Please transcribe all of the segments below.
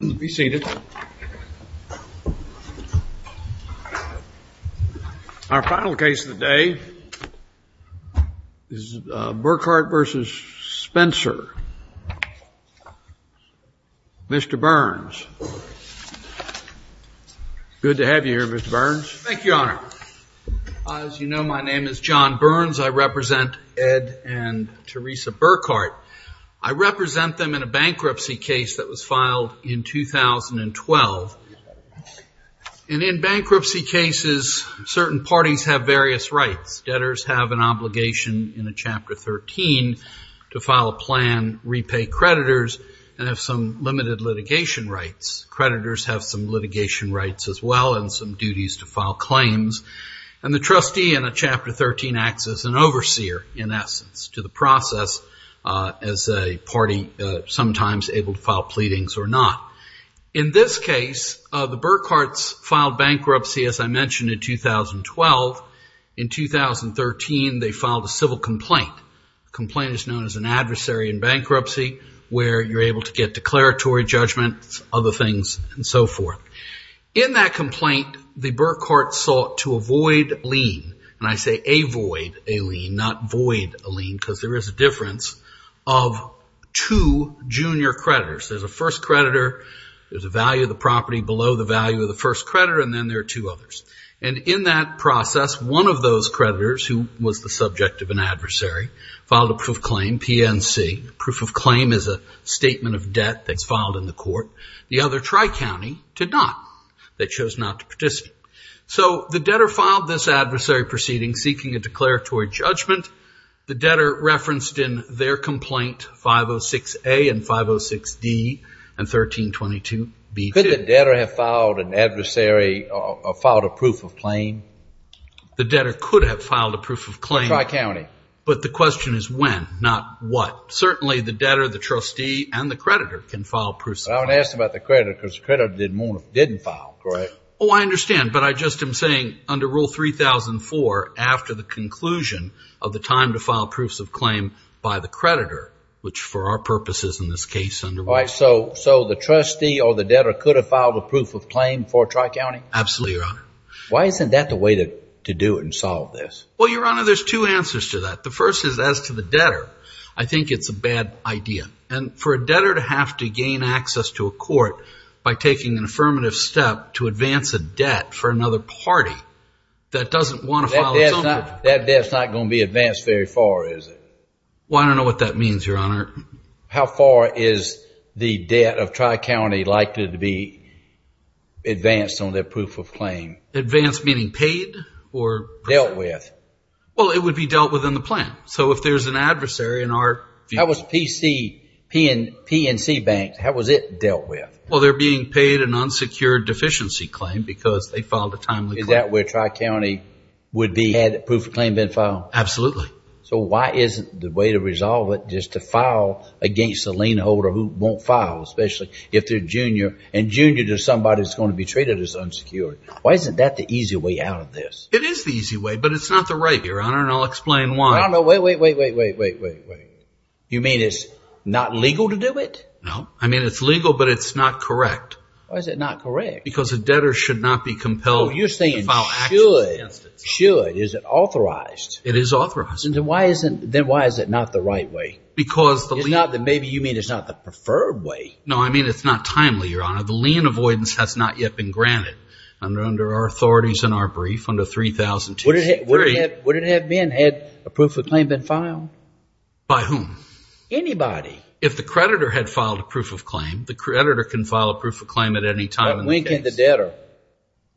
Let's be seated. Our final case of the day is Burkhart v. Spencer. Mr. Burns. Good to have you here, Mr. Burns. Thank you, Your Honor. As you know, my name is John Burns. I represent Ed and Teresa Burkhart. I represent them in a bankruptcy case that was filed in 2012. And in bankruptcy cases, certain parties have various rights. Debtors have an obligation in a Chapter 13 to file a plan, repay creditors, and have some limited litigation rights. Creditors have some litigation rights as well and some duties to file claims. And the trustee in a Chapter 13 acts as an overseer, in essence, to the process as a party sometimes able to do. In this case, the Burkharts filed bankruptcy, as I mentioned, in 2012. In 2013, they filed a civil complaint. A complaint is known as an adversary in bankruptcy where you're able to get declaratory judgments, other things, and so forth. In that complaint, the Burkharts sought to avoid lien, and I say avoid a lien, not void a lien, because there is a difference of two junior creditors. There's a first creditor, there's a value of the property below the value of the first creditor, and then there are two others. And in that process, one of those creditors, who was the subject of an adversary, filed a proof of claim, PNC. Proof of claim is a statement of debt that's filed in the court. The other, Tri-County, did not. They chose not to participate. So the debtor filed this adversary proceeding seeking a fair complaint, 506-A and 506-D and 1322-B-2. Could the debtor have filed a proof of claim? The debtor could have filed a proof of claim. But the question is when, not what. Certainly, the debtor, the trustee, and the creditor can file proofs of claim. I would ask about the creditor because the creditor didn't file, correct? Oh, I understand, but I just am saying under Rule 3004, after the conclusion of the time to file proofs of claim by the creditor, which for our purposes in this case, under Rule 3004. So the trustee or the debtor could have filed a proof of claim for Tri-County? Absolutely, Your Honor. Why isn't that the way to do it and solve this? Well, Your Honor, there's two answers to that. The first is as to the debtor, I think it's a bad idea. And for a debtor to have to gain access to a court by taking an affirmative step to advance a debt for another party that doesn't want to file its own proof of claim. That debt's not going to be advanced very far, is it? Well, I don't know what that means, Your Honor. How far is the debt of Tri-County likely to be advanced on their proof of claim? Advanced meaning paid or? Dealt with. Well, it would be dealt with in the plan. So if there's an adversary in our view. That was the PNC Bank. How was it dealt with? Well, they're being paid an unsecured deficiency claim because they filed a timely claim. Is that where Tri-County would be had proof of claim been filed? Absolutely. So why isn't the way to resolve it just to file against a lien holder who won't file, especially if they're junior? And junior to somebody that's going to be treated as unsecured. Why isn't that the easy way out of this? It is the easy way, but it's not the right, Your Honor, and I'll explain why. I don't know. Wait, wait, wait, wait, wait, wait, wait. You mean it's not legal to do it? No. I mean, it's legal, but it's not correct. Why is it not correct? Because a debtor should not be compelled to file actions against it. Oh, you're saying should. Should. Is it authorized? It is authorized. Then why isn't, then why is it not the right way? Because the lien. It's not the, maybe you mean it's not the preferred way. No, I mean, it's not timely, Your Honor. The lien avoidance has not yet been granted under our authorities in our brief under 3002C3. Would it have been had a proof of claim been filed? By whom? Anybody. If the creditor had filed a proof of claim, the creditor can file a proof of claim at any time. When can the debtor?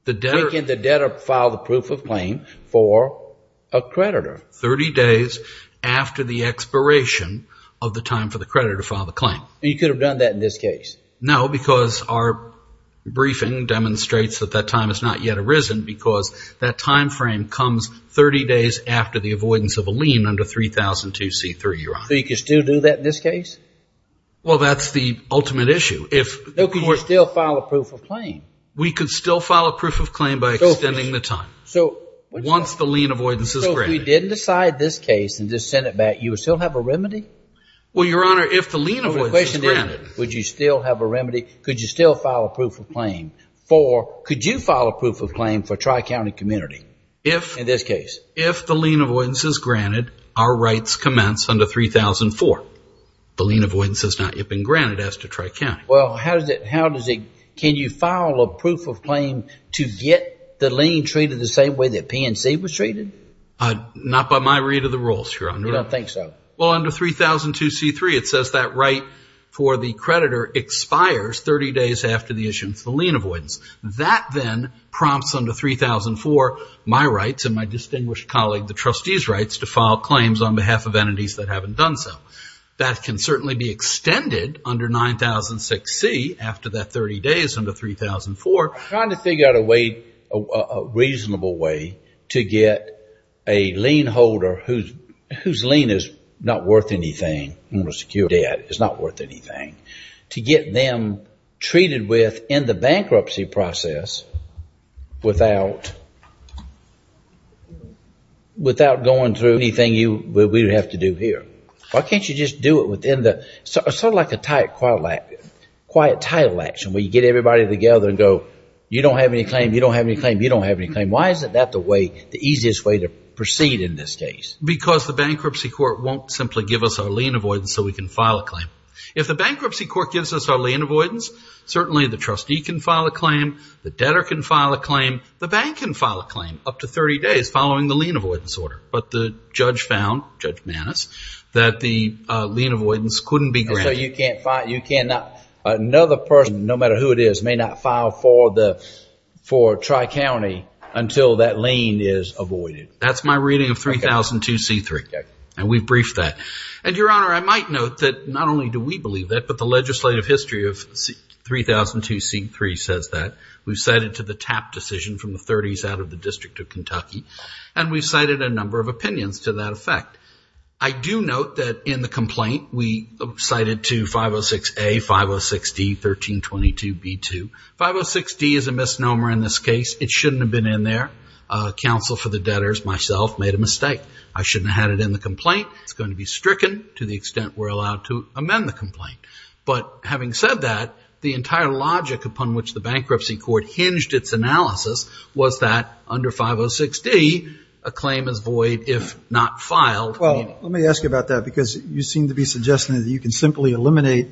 The debtor. When can the debtor file the proof of claim for a creditor? 30 days after the expiration of the time for the creditor to file the claim. And you could have done that in this case? No, because our briefing demonstrates that that time has not yet arisen because that time frame comes 30 days after the avoidance of a lien under 3002C3, Your Honor. So you could still do that in this case? Well, that's the ultimate issue. No, but you could still file a proof of claim. We could still file a proof of claim by extending the time. Once the lien avoidance is granted. So if we didn't decide this case and just send it back, you would still have a remedy? Well, Your Honor, if the lien avoidance is granted. Would you still have a remedy? Could you still file a proof of claim for, could you file a proof of claim for Tri-County Community in this case? If the lien avoidance is granted, our rights commence under 3004. The lien avoidance has not yet been granted as to Tri-County. Well, how does it, how does it, can you file a proof of claim to get the lien treated the same way that PNC was treated? Not by my read of the rules, Your Honor. You don't think so? Well, under 3002C3, it says that right for the creditor expires 30 days after the extension for the lien avoidance. That then prompts under 3004, my rights and my distinguished colleague, the trustee's rights to file claims on behalf of entities that haven't done so. That can certainly be extended under 9006C after that 30 days under 3004. Trying to figure out a way, a reasonable way to get a lien holder whose, whose lien is not worth anything, secure debt, is not worth anything, to get them treated with in the bankruptcy process without, without going through anything you, we would have to do here. Why can't you just do it within the, sort of like a tight, quiet, quiet title action where you get everybody together and go, you don't have any claim, you don't have any claim, you don't have any claim. Why isn't that the way, the easiest way to proceed in this case? Because the bankruptcy court won't simply give us our lien avoidance so we can file a claim. If the bankruptcy court gives us our lien avoidance, certainly the trustee can file a claim, the debtor can file a claim, the bank can file a claim up to 30 days following the lien avoidance order. But the judge found, Judge Maness, that the lien avoidance couldn't be granted. So you can't file, you cannot, another person, no matter who it is, may not file for the, for Tri-County until that lien is avoided. That's my reading of 3002C3. And we've briefed that. And Your Honor, I might note that not only do we believe that, but the legislative history of 3002C3 says that. We've cited to the TAP decision from the 30s out of the District of Kentucky. And we've cited a number of opinions to that effect. I do note that in the complaint, we cited to 506A, 506D, 1322B2. 506D is a complaint. I just myself made a mistake. I shouldn't have had it in the complaint. It's going to be stricken to the extent we're allowed to amend the complaint. But having said that, the entire logic upon which the bankruptcy court hinged its analysis was that under 506D, a claim is void if not filed. Well, let me ask you about that because you seem to be suggesting that you can simply eliminate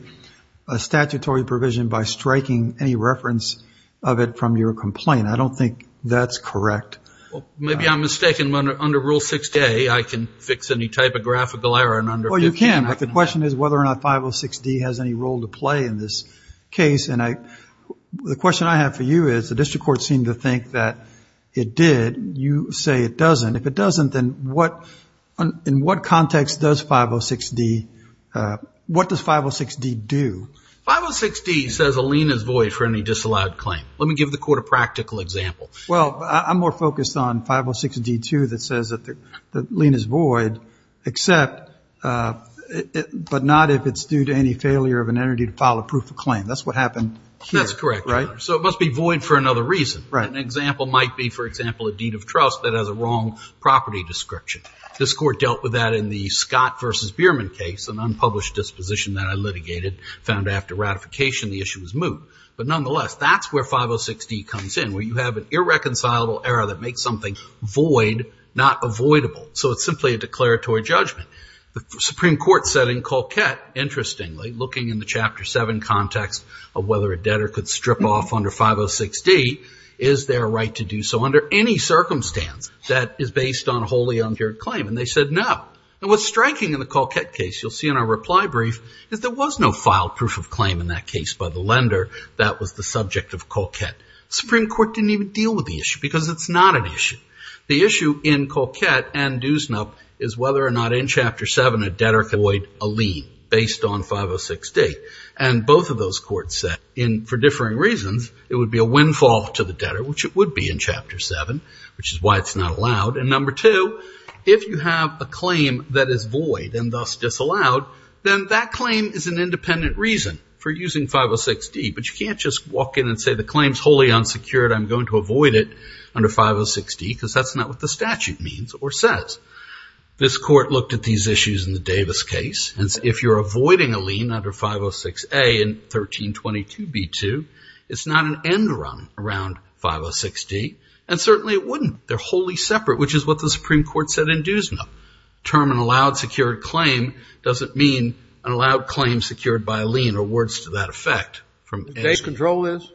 a statutory provision by striking any reference of it from your complaint. I don't think that's correct. Well, maybe I'm mistaken. Under Rule 60A, I can fix any type of graphical error under 508. Well, you can. But the question is whether or not 506D has any role to play in this case. And the question I have for you is the district court seemed to think that it did. You say it doesn't. If it doesn't, then in what context does 506D, what does 506D do? 506D says a lien is void for any disallowed claim. Let me give the court a practical example. Well, I'm more focused on 506D2 that says that the lien is void except, but not if it's due to any failure of an entity to file a proof of claim. That's what happened here. That's correct. So it must be void for another reason. An example might be, for example, a deed of trust that has a wrong property description. This court dealt with that in the Scott v. Bierman case, an unpublished disposition that I litigated, found after ratification the issue was moved. But nonetheless, that's where 506D comes in, where you have an irreconcilable error that makes something void, not avoidable. So it's simply a declaratory judgment. The Supreme Court said in Colquette, interestingly, looking in the Chapter 7 context of whether a debtor could strip off under 506D, is there a right to do so under any circumstance that is based on a wholly undue claim? And they said no. And what's striking in the Colquette case, you'll see in our reply brief, is there was no filed proof of claim in that case by the lender that was the subject of Colquette. The Supreme Court didn't even deal with the issue because it's not an issue. The issue in Colquette and Duesnup is whether or not in Chapter 7 a debtor could avoid a lien based on 506D. And both of those courts said, for differing reasons, it would be a windfall to the debtor, which it would be in Chapter 7, which is why it's not allowed. And number two, if you have a claim that is void and thus disallowed, then that claim is an independent reason for using 506D. But you can't just walk in and say the claim's wholly unsecured. I'm going to avoid it under 506D because that's not what the statute means or says. This Court looked at these issues in the Davis case. And if you're avoiding a lien under 506A in 1322b2, it's not an end run around 506D. And certainly it wouldn't. They're wholly separate, which is what the Supreme Court said in Duesnup. Term an allowed claim secured by a lien or words to that effect. The case control is?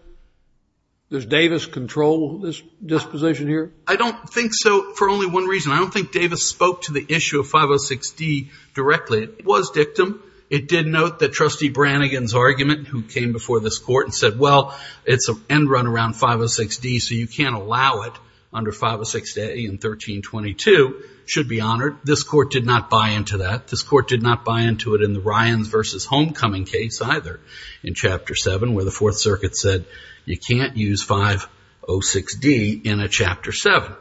Does Davis control this disposition here? I don't think so for only one reason. I don't think Davis spoke to the issue of 506D directly. It was dictum. It did note that Trustee Brannigan's argument, who came before this Court and said, well, it's an end run around 506D, so you can't allow it under 506A in 1322, should be honored. This Court did not buy into that. This Court did not buy into it in the Ryans v. Homecoming case either in Chapter 7 where the Fourth Circuit said you can't use 506D in a Chapter 7.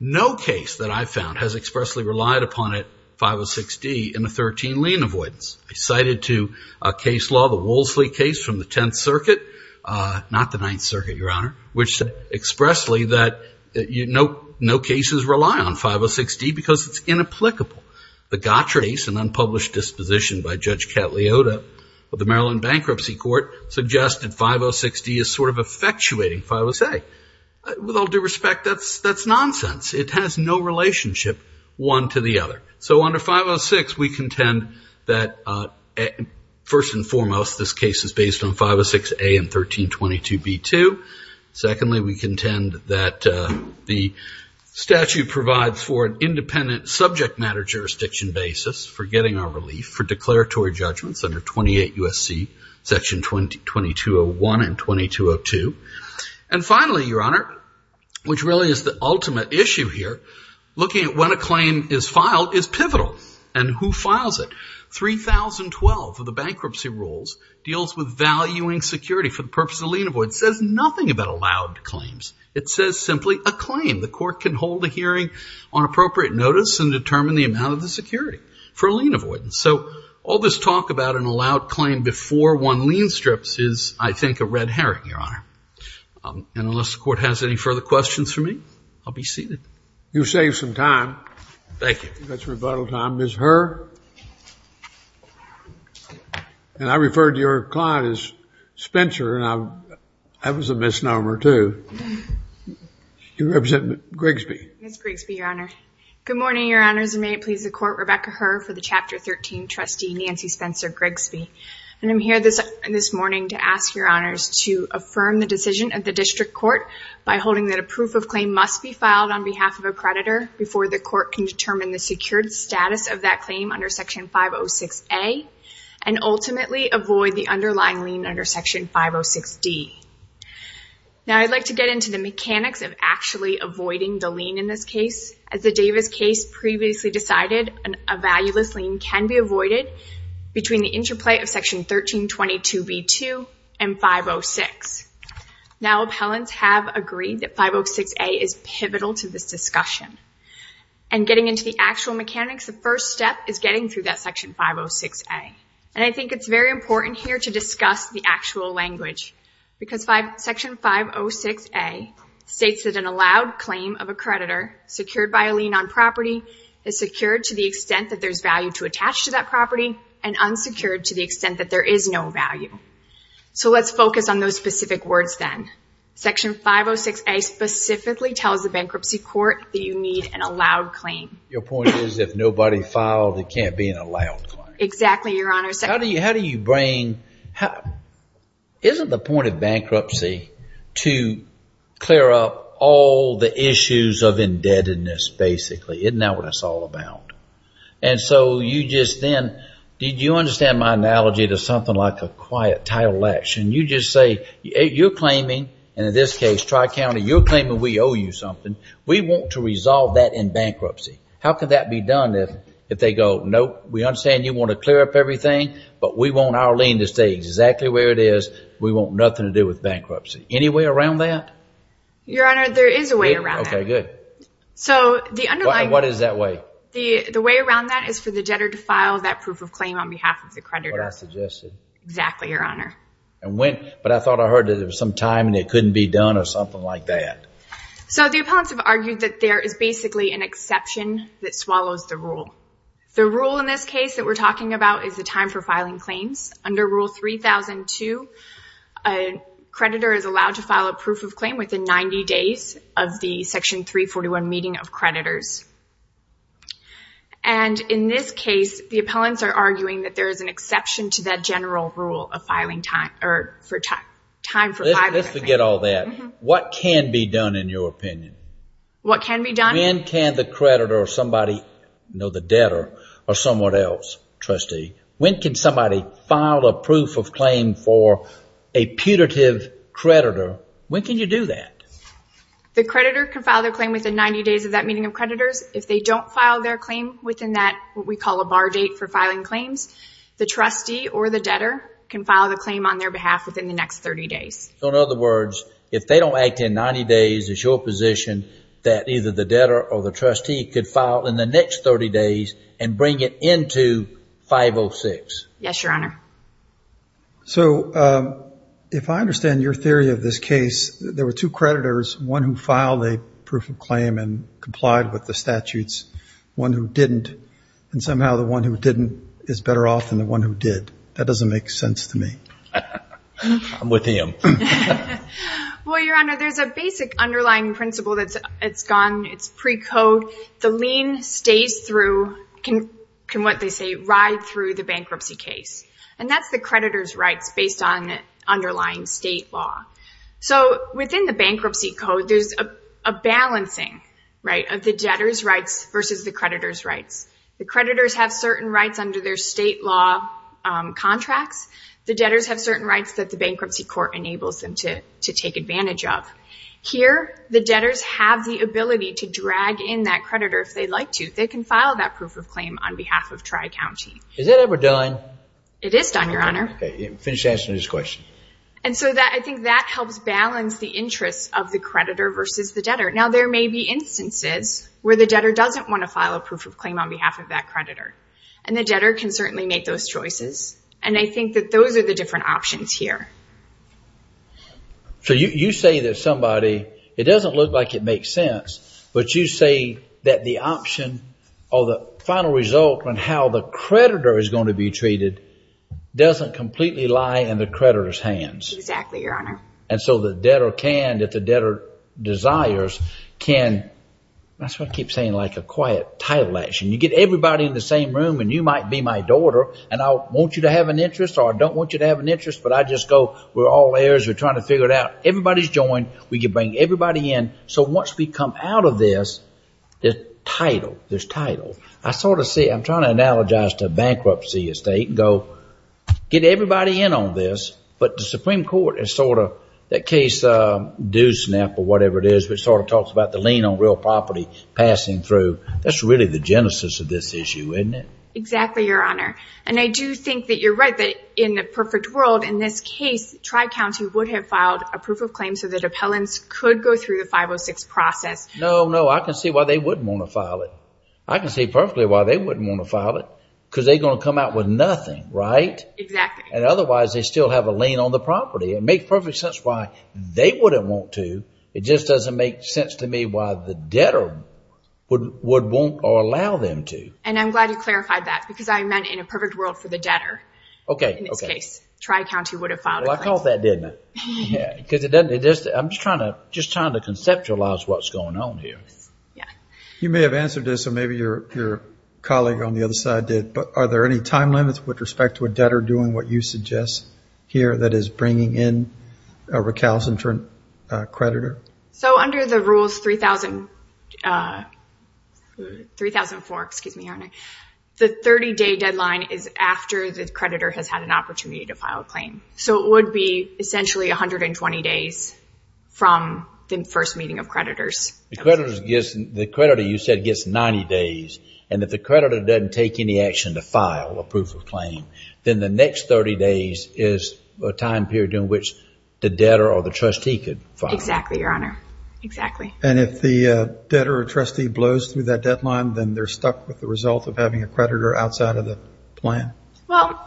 No case that I found has expressly relied upon it, 506D, in a 13 lien avoidance. I cited to a case law, the Wolseley case from the Tenth Circuit, not the Ninth Circuit, Your Honor, which expressly that no cases rely on 506D because it's inapplicable. The Court of the Maryland Bankruptcy Court suggested 506D is sort of effectuating 506A. With all due respect, that's nonsense. It has no relationship one to the other. So under 506, we contend that first and foremost, this case is based on 506A in 1322B2. Secondly, we contend that the statute provides for an independent subject matter jurisdiction basis for getting our judgments under 28 U.S.C. Section 2201 and 2202. And finally, Your Honor, which really is the ultimate issue here, looking at when a claim is filed is pivotal and who files it. 3012 of the bankruptcy rules deals with valuing security for the purpose of lien avoidance. It says nothing about allowed claims. It says simply a claim. The Court can hold a hearing on appropriate notice and determine the amount of the security for lien avoidance. So all this talk about an allowed claim before one lien strips is, I think, a red herring, Your Honor. And unless the Court has any further questions for me, I'll be seated. You've saved some time. Thank you. You've got some rebuttal time. Ms. Herr? And I referred to your client as Spencer and that was a misnomer, too. You represent Grigsby. Ms. Grigsby, Your Honor. Good morning, Your Honors, and may it please the Court, Rebecca C. Spencer Grigsby. And I'm here this morning to ask Your Honors to affirm the decision of the District Court by holding that a proof of claim must be filed on behalf of a creditor before the Court can determine the secured status of that claim under Section 506A and ultimately avoid the underlying lien under Section 506D. Now I'd like to get into the mechanics of actually avoiding the lien in this case. As the Davis case previously decided, a valueless lien can be avoided between the interplay of Section 1322B2 and 506. Now, appellants have agreed that 506A is pivotal to this discussion. And getting into the actual mechanics, the first step is getting through that Section 506A. And I think it's very important here to discuss the actual language because Section 506A states that an allowed claim of a creditor secured by a lien on property is secured to the extent that there's value to attach to that property and unsecured to the extent that there is no value. So let's focus on those specific words then. Section 506A specifically tells the bankruptcy court that you need an allowed claim. Your point is if nobody filed, it can't be an allowed claim. Exactly, Your Honor. How do you bring, isn't the point of bankruptcy to clear up all the issues of indebtedness basically? Isn't that what it's all about? And so you just then, did you understand my analogy to something like a quiet title action? You just say, you're claiming, in this case Tri-County, you're claiming we owe you something. We want to resolve that in bankruptcy. How could that be done if they go, nope, we understand you want to clear up everything, but we want our lien to stay exactly where it is. We want nothing to do with bankruptcy. Any way around that? Your Honor, there is a way around that. Okay, good. What is that way? The way around that is for the debtor to file that proof of claim on behalf of the creditor. What I suggested. Exactly, Your Honor. But I thought I heard that there was some time and it couldn't be done or something like that. So the appellants have argued that there is basically an exception that swallows the rule. The rule in this case that we're talking about is the time for filing claims. Under Rule 3002, a creditor is allowed to file a proof of claim within 90 days of the Section 341 meeting of creditors. And in this case, the appellants are arguing that there is an exception to that general rule of filing time, or for time for filing. Let's forget all that. What can be done in your opinion? What can be done? When can the creditor or somebody, you know, the debtor or someone else, trustee, when can somebody file a proof of claim for a putative creditor? When can you do that? The creditor can file their claim within 90 days of that meeting of creditors. If they don't file their claim within that, what we call a bar date for filing claims, the trustee or the debtor can file the claim on their behalf within the next 30 days. So in other words, if they don't act in 90 days, it's your position that either the debtor or the trustee could file in the next 30 days and bring it into 506? Yes, Your Honor. So if I understand your theory of this case, there were two creditors, one who filed a proof of claim and complied with the statutes, one who didn't, and somehow the one who didn't is better off than the one who did. That doesn't make sense to me. I'm with him. Well, Your Honor, there's a basic underlying principle that's gone, it's pre-code. The lien stays through, can what they say, ride through the bankruptcy case. And that's the creditor's rights based on underlying state law. So within the bankruptcy code, there's a balancing, right, of the debtor's rights versus the creditor's rights. The creditor has certain rights under their state law contracts. The debtors have certain rights that the bankruptcy court enables them to take advantage of. Here, the debtors have the ability to drag in that creditor if they'd like to. They can file that proof of claim on behalf of Tri-County. Is that ever done? It is done, Your Honor. Okay, finish answering this question. And so I think that helps balance the interests of the creditor versus the debtor. Now there may be instances where the debtor doesn't want to file a proof of claim on behalf of that creditor. And the debtor can certainly make those choices. And I think that those are the different options here. So you say that somebody, it doesn't look like it makes sense, but you say that the option or the final result on how the creditor is going to be treated doesn't completely lie in the creditor's hands. Exactly, Your Honor. And so the debtor can, if the debtor desires, can, that's why I keep saying like a quiet title action. You get everybody in the same room and you might be my daughter and I want you to have an interest or I don't want you to have an interest, but I just go, we're all heirs, we're trying to figure it out. Everybody's joined, we can bring everybody in. So once we come out of this, there's title, there's title. I sort of see, I'm trying to analogize to bankruptcy estate and go, get everybody in on this. But the Supreme Court is sort of, that case Doosnap or whatever it is, which sort of talks about the lien on real property passing through. That's really the genesis of this issue, isn't it? Exactly, Your Honor. And I do think that you're right that in a perfect world, in this case, Tri-County would have filed a proof of claim so that appellants could go through the 506 process. No, no. I can see why they wouldn't want to file it. I can see perfectly why they wouldn't want to file it, because they're going to come out with nothing, right? Exactly. And otherwise, they still have a lien on the property. It makes perfect sense why they wouldn't want to. It just doesn't make sense to me why the debtor would want or allow them to. And I'm glad you clarified that, because I meant in a perfect world for the debtor. Okay, okay. In this case, Tri-County would have filed a claim. Well, I caught that, didn't I? Because I'm just trying to conceptualize what's going on here. Yes, yeah. You may have answered this, or maybe your colleague on the other side did, but are there any time limits with respect to a debtor doing what you suggest here, that is bringing in a recalcitrant creditor? So under the rules 3004, the 30-day deadline is after the creditor has had an opportunity to file a claim. So it would be essentially 120 days from the first meeting of creditors. The creditor, you said, gets 90 days, and if the creditor doesn't take any action to Exactly, Your Honor. Exactly. And if the debtor or trustee blows through that deadline, then they're stuck with the result of having a creditor outside of the plan? Well,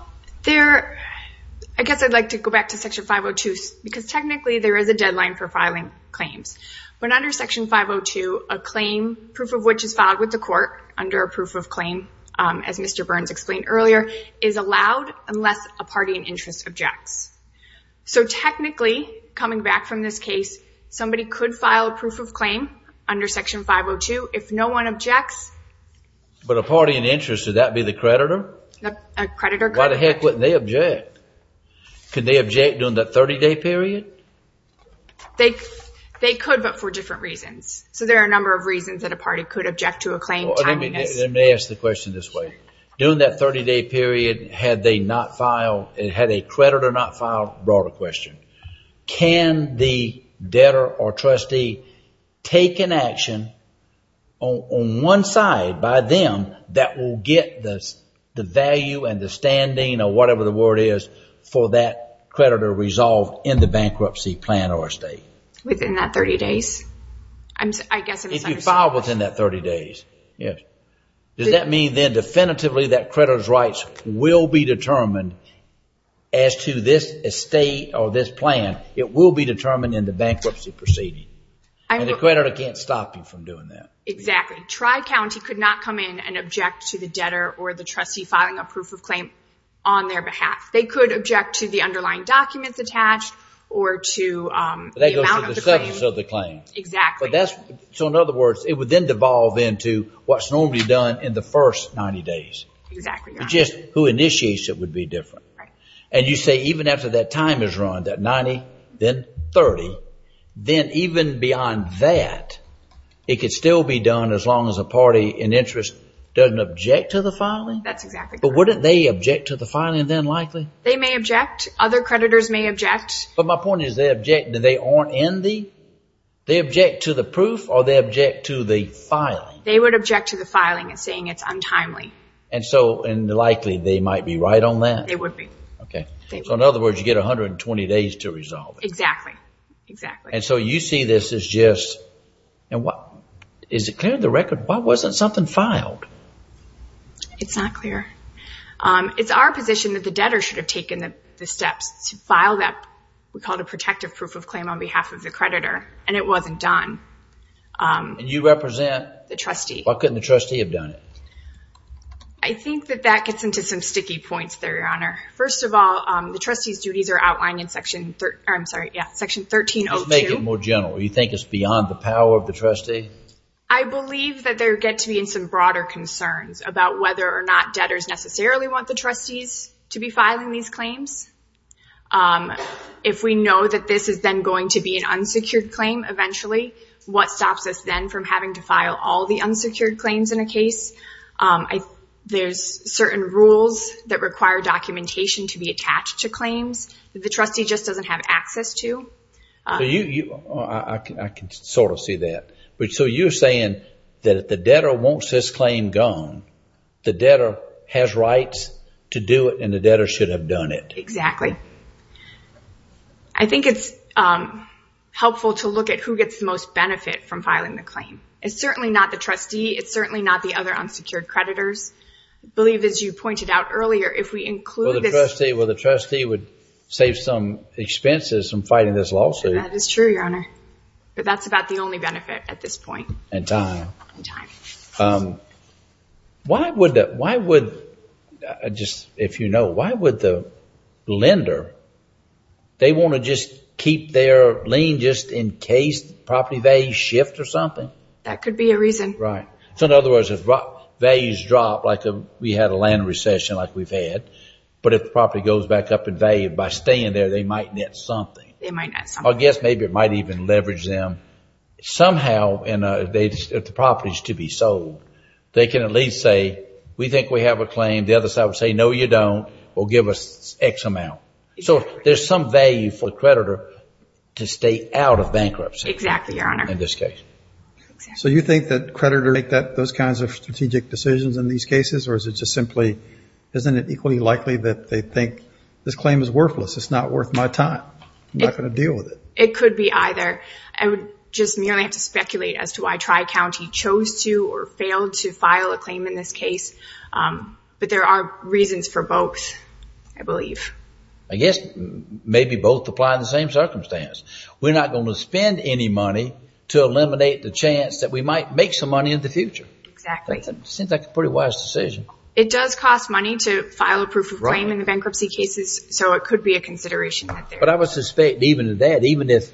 I guess I'd like to go back to Section 502, because technically there is a deadline for filing claims. But under Section 502, a claim, proof of which is filed with the court under a proof of claim, as Mr. Burns explained earlier, is allowed unless a party in interest objects. So technically, coming back from this case, somebody could file a proof of claim under Section 502 if no one objects. But a party in interest, would that be the creditor? A creditor could object. Why the heck wouldn't they object? Could they object during that 30-day period? They could, but for different reasons. So there are a number of reasons that a party could object to a claim. Let me ask the question this way. During that 30-day period, had they not filed, had a creditor not filed, broader question. Can the debtor or trustee take an action on one side by them that will get the value and the standing, or whatever the word is, for that creditor resolved in the bankruptcy plan or estate? Within that 30 days? If you filed within that 30 days, yes. Does that mean then definitively that creditor's rights will be determined as to this estate or this plan? It will be determined in the bankruptcy proceeding. And the creditor can't stop you from doing that. Exactly. Tri-County could not come in and object to the debtor or the trustee filing a proof of claim on their behalf. They could object to the underlying documents attached or to the amount of the claim. That goes to the substance of the claim. Exactly. So in other words, it would then devolve into what's normally done in the first 90 days. Exactly. It's just who initiates it would be different. And you say even after that time is run, that 90, then 30, then even beyond that, it could still be done as long as a party in interest doesn't object to the filing? That's exactly correct. But wouldn't they object to the filing then likely? They may object. Other creditors may object. But my point is they object, they aren't in the, they object to the proof or they object to the filing? They would object to the filing and saying it's untimely. And so, and likely they might be right on that? They would be. Okay. So in other words, you get 120 days to resolve it. Exactly. Exactly. And so you see this as just, is it clear in the record, why wasn't something filed? It's not clear. It's our position that the debtor should have taken the steps to file that we call it a protective proof of claim on behalf of the creditor. And it wasn't done. You represent? The trustee. Why couldn't the trustee have done it? I think that that gets into some sticky points there, Your Honor. First of all, the trustee's duties are outlined in section, I'm sorry, yeah, section 1302. Just make it more general. You think it's beyond the power of the trustee? I believe that there get to be in some broader concerns about whether or not debtors necessarily want the trustees to be filing these claims. If we know that this is then going to be an unsecured claim eventually, what stops us then from having to file all the unsecured claims in a case? There's certain rules that require documentation to be attached to claims that the trustee just doesn't have access to. I can sort of see that. So you're saying that if the debtor wants this claim gone, the debtor has rights to do it and the debtor should have done it. Exactly. I think it's helpful to look at who gets the most benefit from filing the claim. It's certainly not the trustee. It's certainly not the other unsecured creditors. I believe as you pointed out earlier, if we include this... That is true, Your Honor. But that's about the only benefit at this point. In time. In time. Why would, if you know, why would the lender, they want to just keep their lien just in case property values shift or something? That could be a reason. Right. So in other words, if values drop, like we had a land recession like we've had, but if the property goes back up in value by staying there, they might net something. I guess maybe it might even leverage them. Somehow, if the property is to be sold, they can at least say, we think we have a claim. The other side would say, no, you don't. We'll give us X amount. So there's some value for the creditor to stay out of bankruptcy. Exactly, Your Honor. In this case. So you think that creditors make those kinds of strategic decisions in these cases or is it just simply, isn't it equally likely that they think this claim is worthless? It's not worth my time. I'm not going to deal with it. It could be either. I would just merely have to speculate as to why Tri-County chose to or failed to file a claim in this case. But there are reasons for both, I believe. I guess maybe both apply in the same circumstance. We're not going to spend any money to eliminate the chance that we might make some money in the future. Exactly. Seems like a pretty wise decision. It does cost money to file a proof of claim in the bankruptcy cases. So it could be a consideration that there is. But I would suspect even that, even if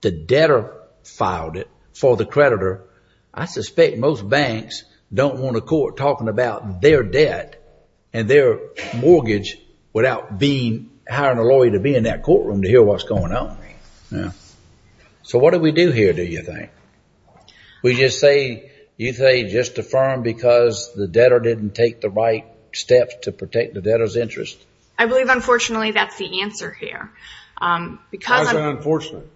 the debtor filed it for the creditor, I suspect most banks don't want a court talking about their debt and their mortgage without being hiring a lawyer to be in that courtroom to hear what's going on. So what do we do here, do you think? We just say, you say just affirm because the debtor didn't take the right steps to protect the debtor's interest? I believe, unfortunately, that's the answer here. Why is that unfortunate?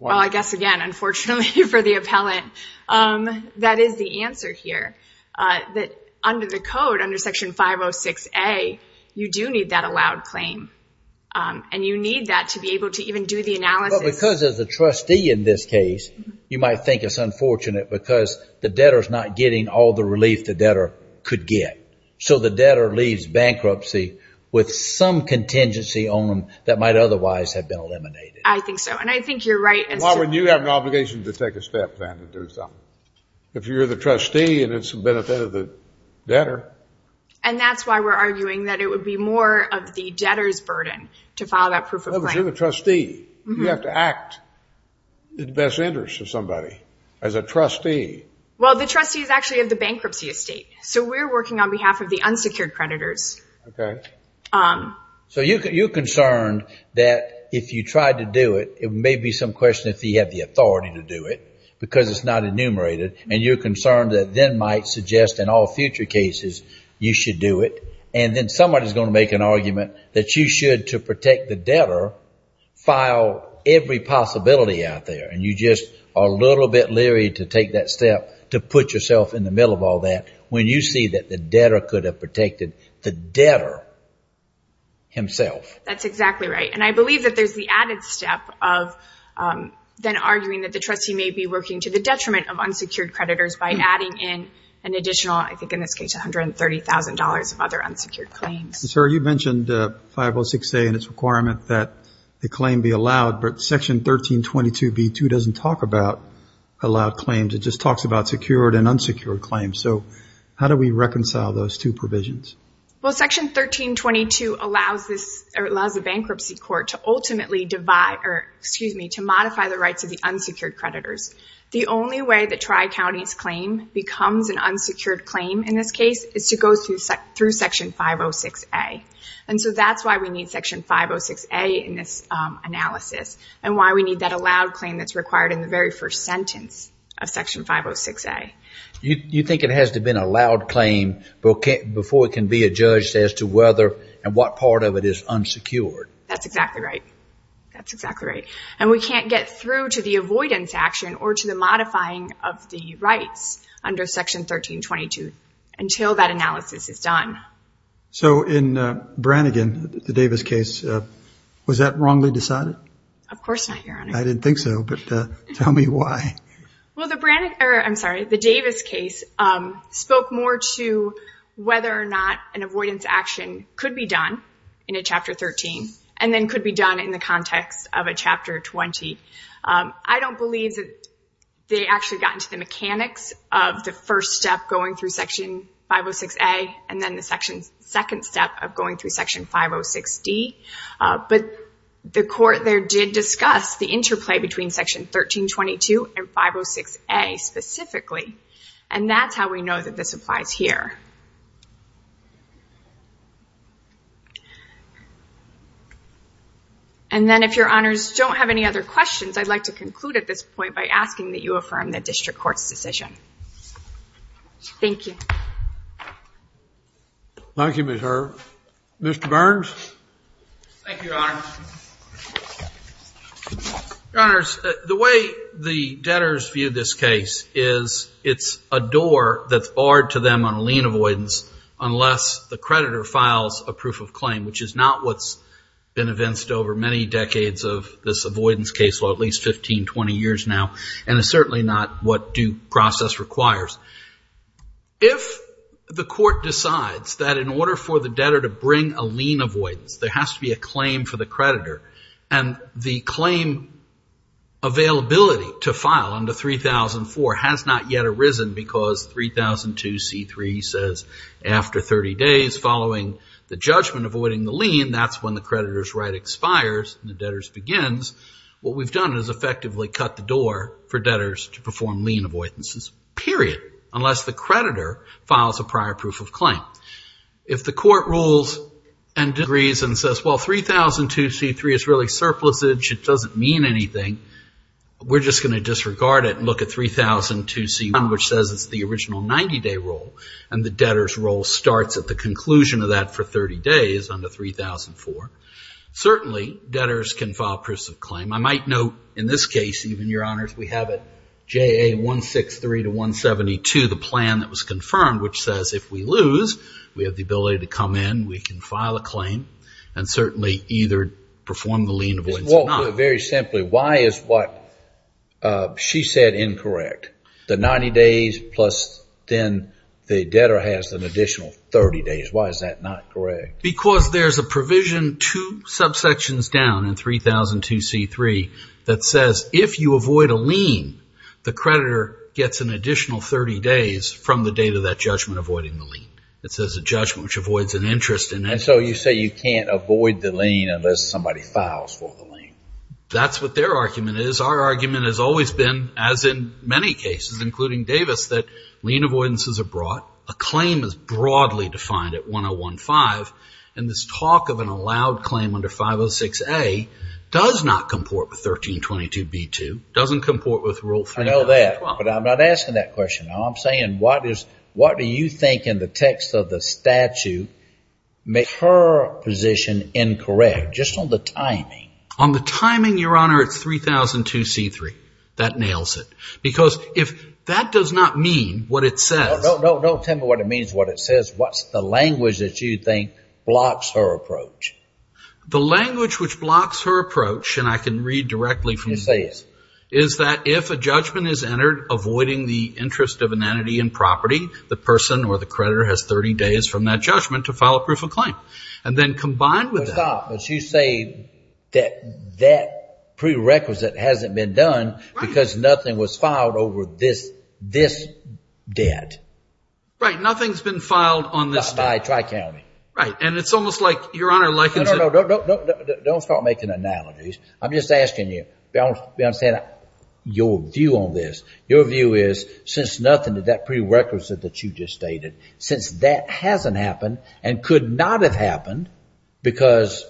Well, I guess, again, unfortunately for the appellant, that is the answer here. Under the code, under Section 506A, you do need that allowed claim. And you need that to be able to even do the analysis. But because as a trustee in this case, you might think it's unfortunate because the debtor is not getting all the relief the debtor could get. So the debtor leaves bankruptcy with some contingency on them that might otherwise have been eliminated. I think so. And I think you're right. Why would you have an obligation to take a step then to do something if you're the trustee and it's the benefit of the debtor? And that's why we're arguing that it would be more of the debtor's burden to file that proof of claim. But you're the trustee. You have to act in the best interest of somebody as a trustee. Well, the trustee is actually of the bankruptcy estate. So we're working on behalf of the unsecured creditors. So you're concerned that if you tried to do it, it may be some question if he had the authority to do it because it's not enumerated. And you're concerned that then might suggest in all future cases, you should do it. And then somebody is going to make an argument that you should, to protect the debtor, file every possibility out there. And you just are a little bit leery to take that step to put yourself in the middle of all that when you see that the debtor could have protected the debtor himself. That's exactly right. And I believe that there's the added step of then arguing that the trustee may be working to the detriment of unsecured creditors by adding in an additional, I think in this case, $130,000 of other unsecured claims. Sir, you mentioned 506A and its requirement that the claim be allowed. But Section 1322b2 doesn't talk about allowed claims. It just talks about secured and unsecured claims. So how do we reconcile those two provisions? Well, Section 1322 allows the bankruptcy court to ultimately divide, or excuse me, to modify the rights of the unsecured creditors. The only way that Tri-County's claim becomes an unsecured claim in this case is to go through Section 506A. And so that's why we need Section 506A in this analysis, and why we need that allowed claim that's required in the very first sentence of Section 506A. You think it has to have been a allowed claim before it can be adjudged as to whether and what part of it is unsecured? That's exactly right. That's exactly right. And we can't get through to the avoidance action or to the modifying of the rights under Section 1322 until that analysis is done. So in Brannigan, the Davis case, was that wrongly decided? Of course not, Your Honor. I didn't think so, but tell me why. Well, the Davis case spoke more to whether or not an avoidance action could be done in a Chapter 13 and then could be done in the context of a Chapter 20. I don't believe that they actually got into the mechanics of the first step going through Section 506A and then the second step of going through Section 506D. But the Court there did discuss the interplay between Section 1322 and 506A specifically, and that's how we know that this applies here. And then if Your Honors don't have any other questions, I'd like to conclude at this point by asking that you affirm the District Court's decision. Thank you. Thank you, Ms. Hurd. Mr. Burns? Thank you, Your Honor. Your Honors, the way the debtors view this case is it's a door that's barred to them on a lien avoidance unless the creditor files a proof of claim, which is not what's been evinced over many decades of this avoidance case law, at least 15, 20 years now, and it's certainly not what Duke process requires. If the Court decides that in order for the debtor to bring a lien avoidance, there has to be a claim for the creditor, and the claim availability to file under 3004 has not yet arisen because 3002c3 says after 30 days following the judgment avoiding the lien, that's when the creditor's right expires and the debtor's begins, what we've done is effectively cut the door for debtors to perform lien avoidances, period, unless the creditor files a prior proof of claim. If the Court rules and disagrees and says, well, 3002c3 is really surplusage, it doesn't mean anything, we're just going to disregard it and look at 3002c1, which says it's the original 90-day rule, and the debtor's role starts at the conclusion of that for 30 days under 3004, certainly debtors can file proofs of claim. I might note in this case, even, Your Honors, we have it, JA163-172, the plan that was confirmed, which says if we lose, we have the ability to come in, we can file a claim, and certainly either perform the lien avoidance or not. Very simply, why is what she said incorrect? The 90 days plus then the debtor has an additional 30 days, why is that not correct? Because there's a provision two subsections down in 3002c3 that says if you avoid a lien, the creditor gets an additional 30 days from the date of that judgment avoiding the lien. It says a judgment which avoids an interest in that. So you say you can't avoid the lien unless somebody files for the lien. That's what their argument is. Our argument has always been, as in many cases, including Davis, that lien avoidances are brought, a claim is broadly defined at 1015, and this talk of an allowed claim under 506a does not comport with 1322b2, doesn't comport with rule 3012. I know that, but I'm not asking that question, I'm saying what do you think in the text of the statute makes her position incorrect, just on the timing? On the timing, Your Honor, it's 3002c3. That nails it. Because if that does not mean what it says. No, don't tell me what it means, what it says, what's the language that you think blocks her approach? The language which blocks her approach, and I can read directly from this, is that if a judgment is entered avoiding the interest of an entity in property, the person or the creditor has 30 days from that judgment to file a proof of claim. And then combined with that. But you say that that prerequisite hasn't been done because nothing was filed over this debt. Right, nothing's been filed on this debt. By Tri-County. Right. And it's almost like, Your Honor, like- No, no, no, don't start making analogies. I'm just asking you, your view on this. Your view is, since nothing to that prerequisite that you just stated, since that hasn't happened and could not have happened because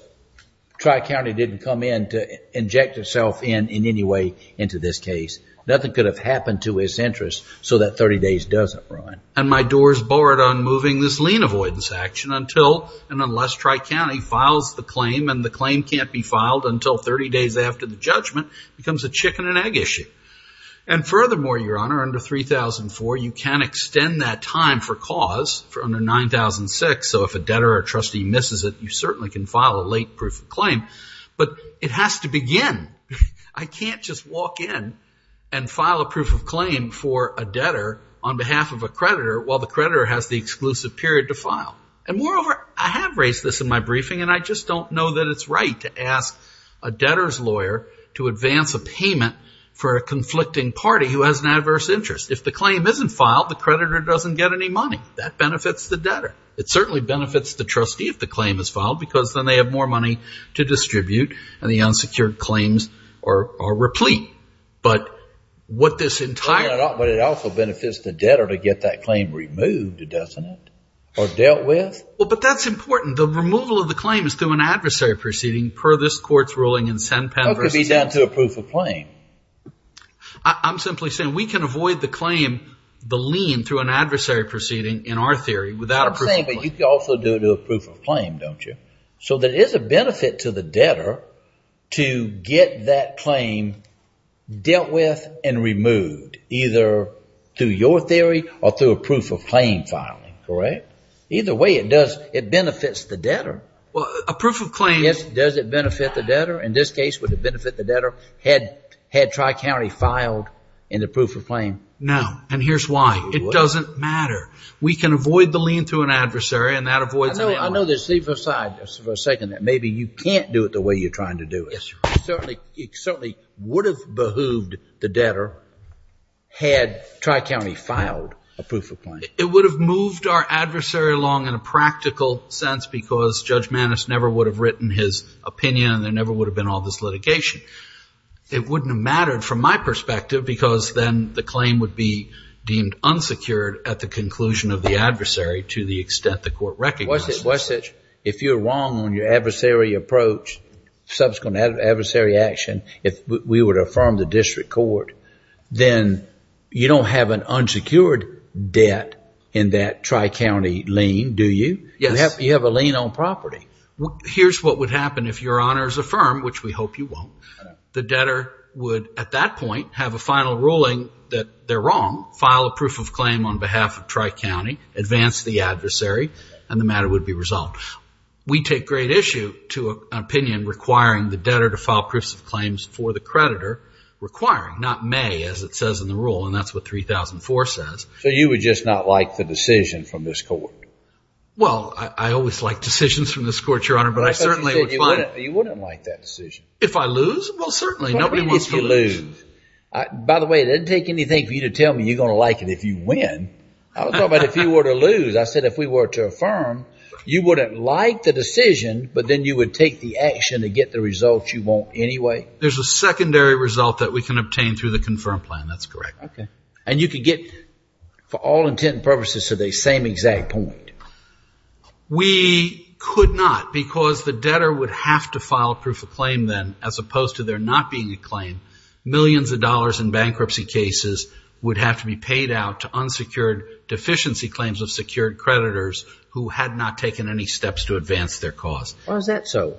Tri-County didn't come in to inject itself in, in any way into this case. Nothing could have happened to his interest so that 30 days doesn't run. And my doors barred on moving this lien avoidance action until and unless Tri-County files the claim and the claim can't be filed until 30 days after the judgment becomes a chicken and egg issue. And furthermore, Your Honor, under 3004, you can extend that time for cause for under 9006. So if a debtor or trustee misses it, you certainly can file a late proof of claim. But it has to begin. I can't just walk in and file a proof of claim for a debtor on behalf of a creditor while the creditor has the exclusive period to file. And moreover, I have raised this in my briefing and I just don't know that it's right to ask a debtor's lawyer to advance a payment for a conflicting party who has an adverse interest. If the claim isn't filed, the creditor doesn't get any money. That benefits the debtor. It certainly benefits the trustee if the claim is filed because then they have more money to distribute and the unsecured claims are, are replete. But what this entire- But it also benefits the debtor to get that claim removed, doesn't it? Or dealt with? Well, but that's important. The removal of the claim is through an adversary proceeding per this court's ruling in SennPenn versus- That could be done through a proof of claim. I'm simply saying we can avoid the claim, the lien, through an adversary proceeding in our theory without a proof of claim. I'm saying, but you could also do it through a proof of claim, don't you? So there is a benefit to the debtor to get that claim dealt with and removed either through your theory or through a proof of claim filing, correct? Either way, it does, it benefits the debtor. Well, a proof of claim- Yes, does it benefit the debtor? In this case, would it benefit the debtor had, had Tri-County filed in the proof of claim? No. And here's why. It doesn't matter. We can avoid the lien through an adversary and that avoids- I know, I know there's, leave aside for a second that maybe you can't do it the way you're trying to do it. Yes, sir. It certainly, it certainly would have behooved the debtor had Tri-County filed a proof of claim. It would have moved our adversary along in a practical sense because Judge Maness never would have written his opinion and there never would have been all this litigation. It wouldn't have mattered from my perspective because then the claim would be deemed unsecured at the conclusion of the adversary to the extent the court recognized it. Wessage, if you're wrong on your adversary approach, subsequent adversary action, if we would affirm the district court, then you don't have an unsecured debt in that Tri-County lien, do you? Yes. You have a lien on property. Here's what would happen if your honors affirm, which we hope you won't, the debtor would at that point have a final ruling that they're wrong, file a proof of claim on behalf of Tri-County, advance the adversary, and the matter would be resolved. We take great issue to an opinion requiring the debtor to file proofs of claims for the creditor requiring, not may, as it says in the rule, and that's what 3004 says. You would just not like the decision from this court? Well, I always like decisions from this court, your honor, but I certainly would find it. You wouldn't like that decision. If I lose? Well, certainly. Nobody wants to lose. Nobody needs to lose. By the way, it doesn't take anything for you to tell me you're going to like it if you win. I was talking about if you were to lose. I said if we were to affirm, you wouldn't like the decision, but then you would take the action to get the results you want anyway? There's a secondary result that we can obtain through the confirmed plan. That's correct. Okay. And you could get, for all intent and purposes, to the same exact point? We could not because the debtor would have to file proof of claim then, as opposed to there not being a claim, millions of dollars in bankruptcy cases would have to be paid out to unsecured deficiency claims of secured creditors who had not taken any steps to advance their cause. Why is that so?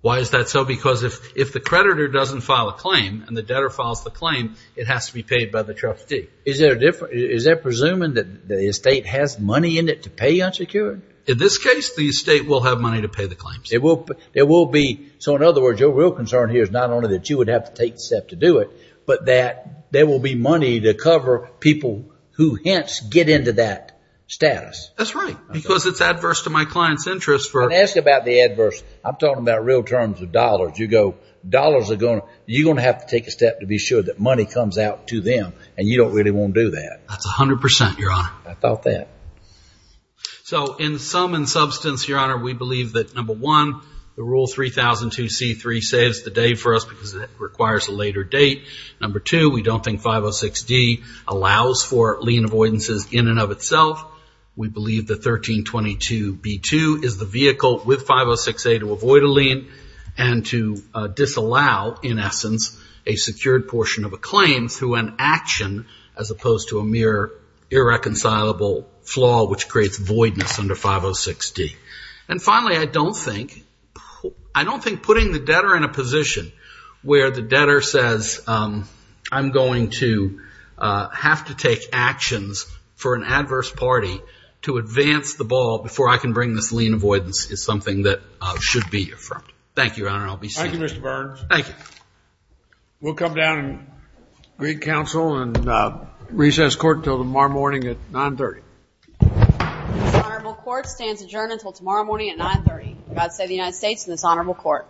Why is that so? Because if the creditor doesn't file a claim and the debtor files the claim, it has to be paid by the trustee. Is there a difference? Is that presuming that the estate has money in it to pay unsecured? In this case, the estate will have money to pay the claims. It will be. So, in other words, your real concern here is not only that you would have to take the but that there will be money to cover people who hence get into that status. That's right. Because it's adverse to my client's interest for... I'm asking about the adverse. I'm talking about real terms of dollars. You go, dollars are going to... you're going to have to take a step to be sure that money comes out to them, and you don't really want to do that. That's 100%, Your Honor. I thought that. So, in sum and substance, Your Honor, we believe that, number one, the Rule 3002C3 saves the day for us because it requires a later date. Number two, we don't think 506D allows for lien avoidances in and of itself. We believe that 1322B2 is the vehicle with 506A to avoid a lien and to disallow, in essence, a secured portion of a claim through an action as opposed to a mere irreconcilable flaw which creates voidness under 506D. And finally, I don't think... I don't think putting the debtor in a position where the debtor says, I'm going to have to take actions for an adverse party to advance the ball before I can bring this lien avoidance is something that should be affirmed. Thank you, Your Honor. I'll be seated. Thank you, Mr. Burns. Thank you. We'll come down and greet counsel and recess court until tomorrow morning at 930. This honorable court stands adjourned until tomorrow morning at 930. God save the United States and this honorable court.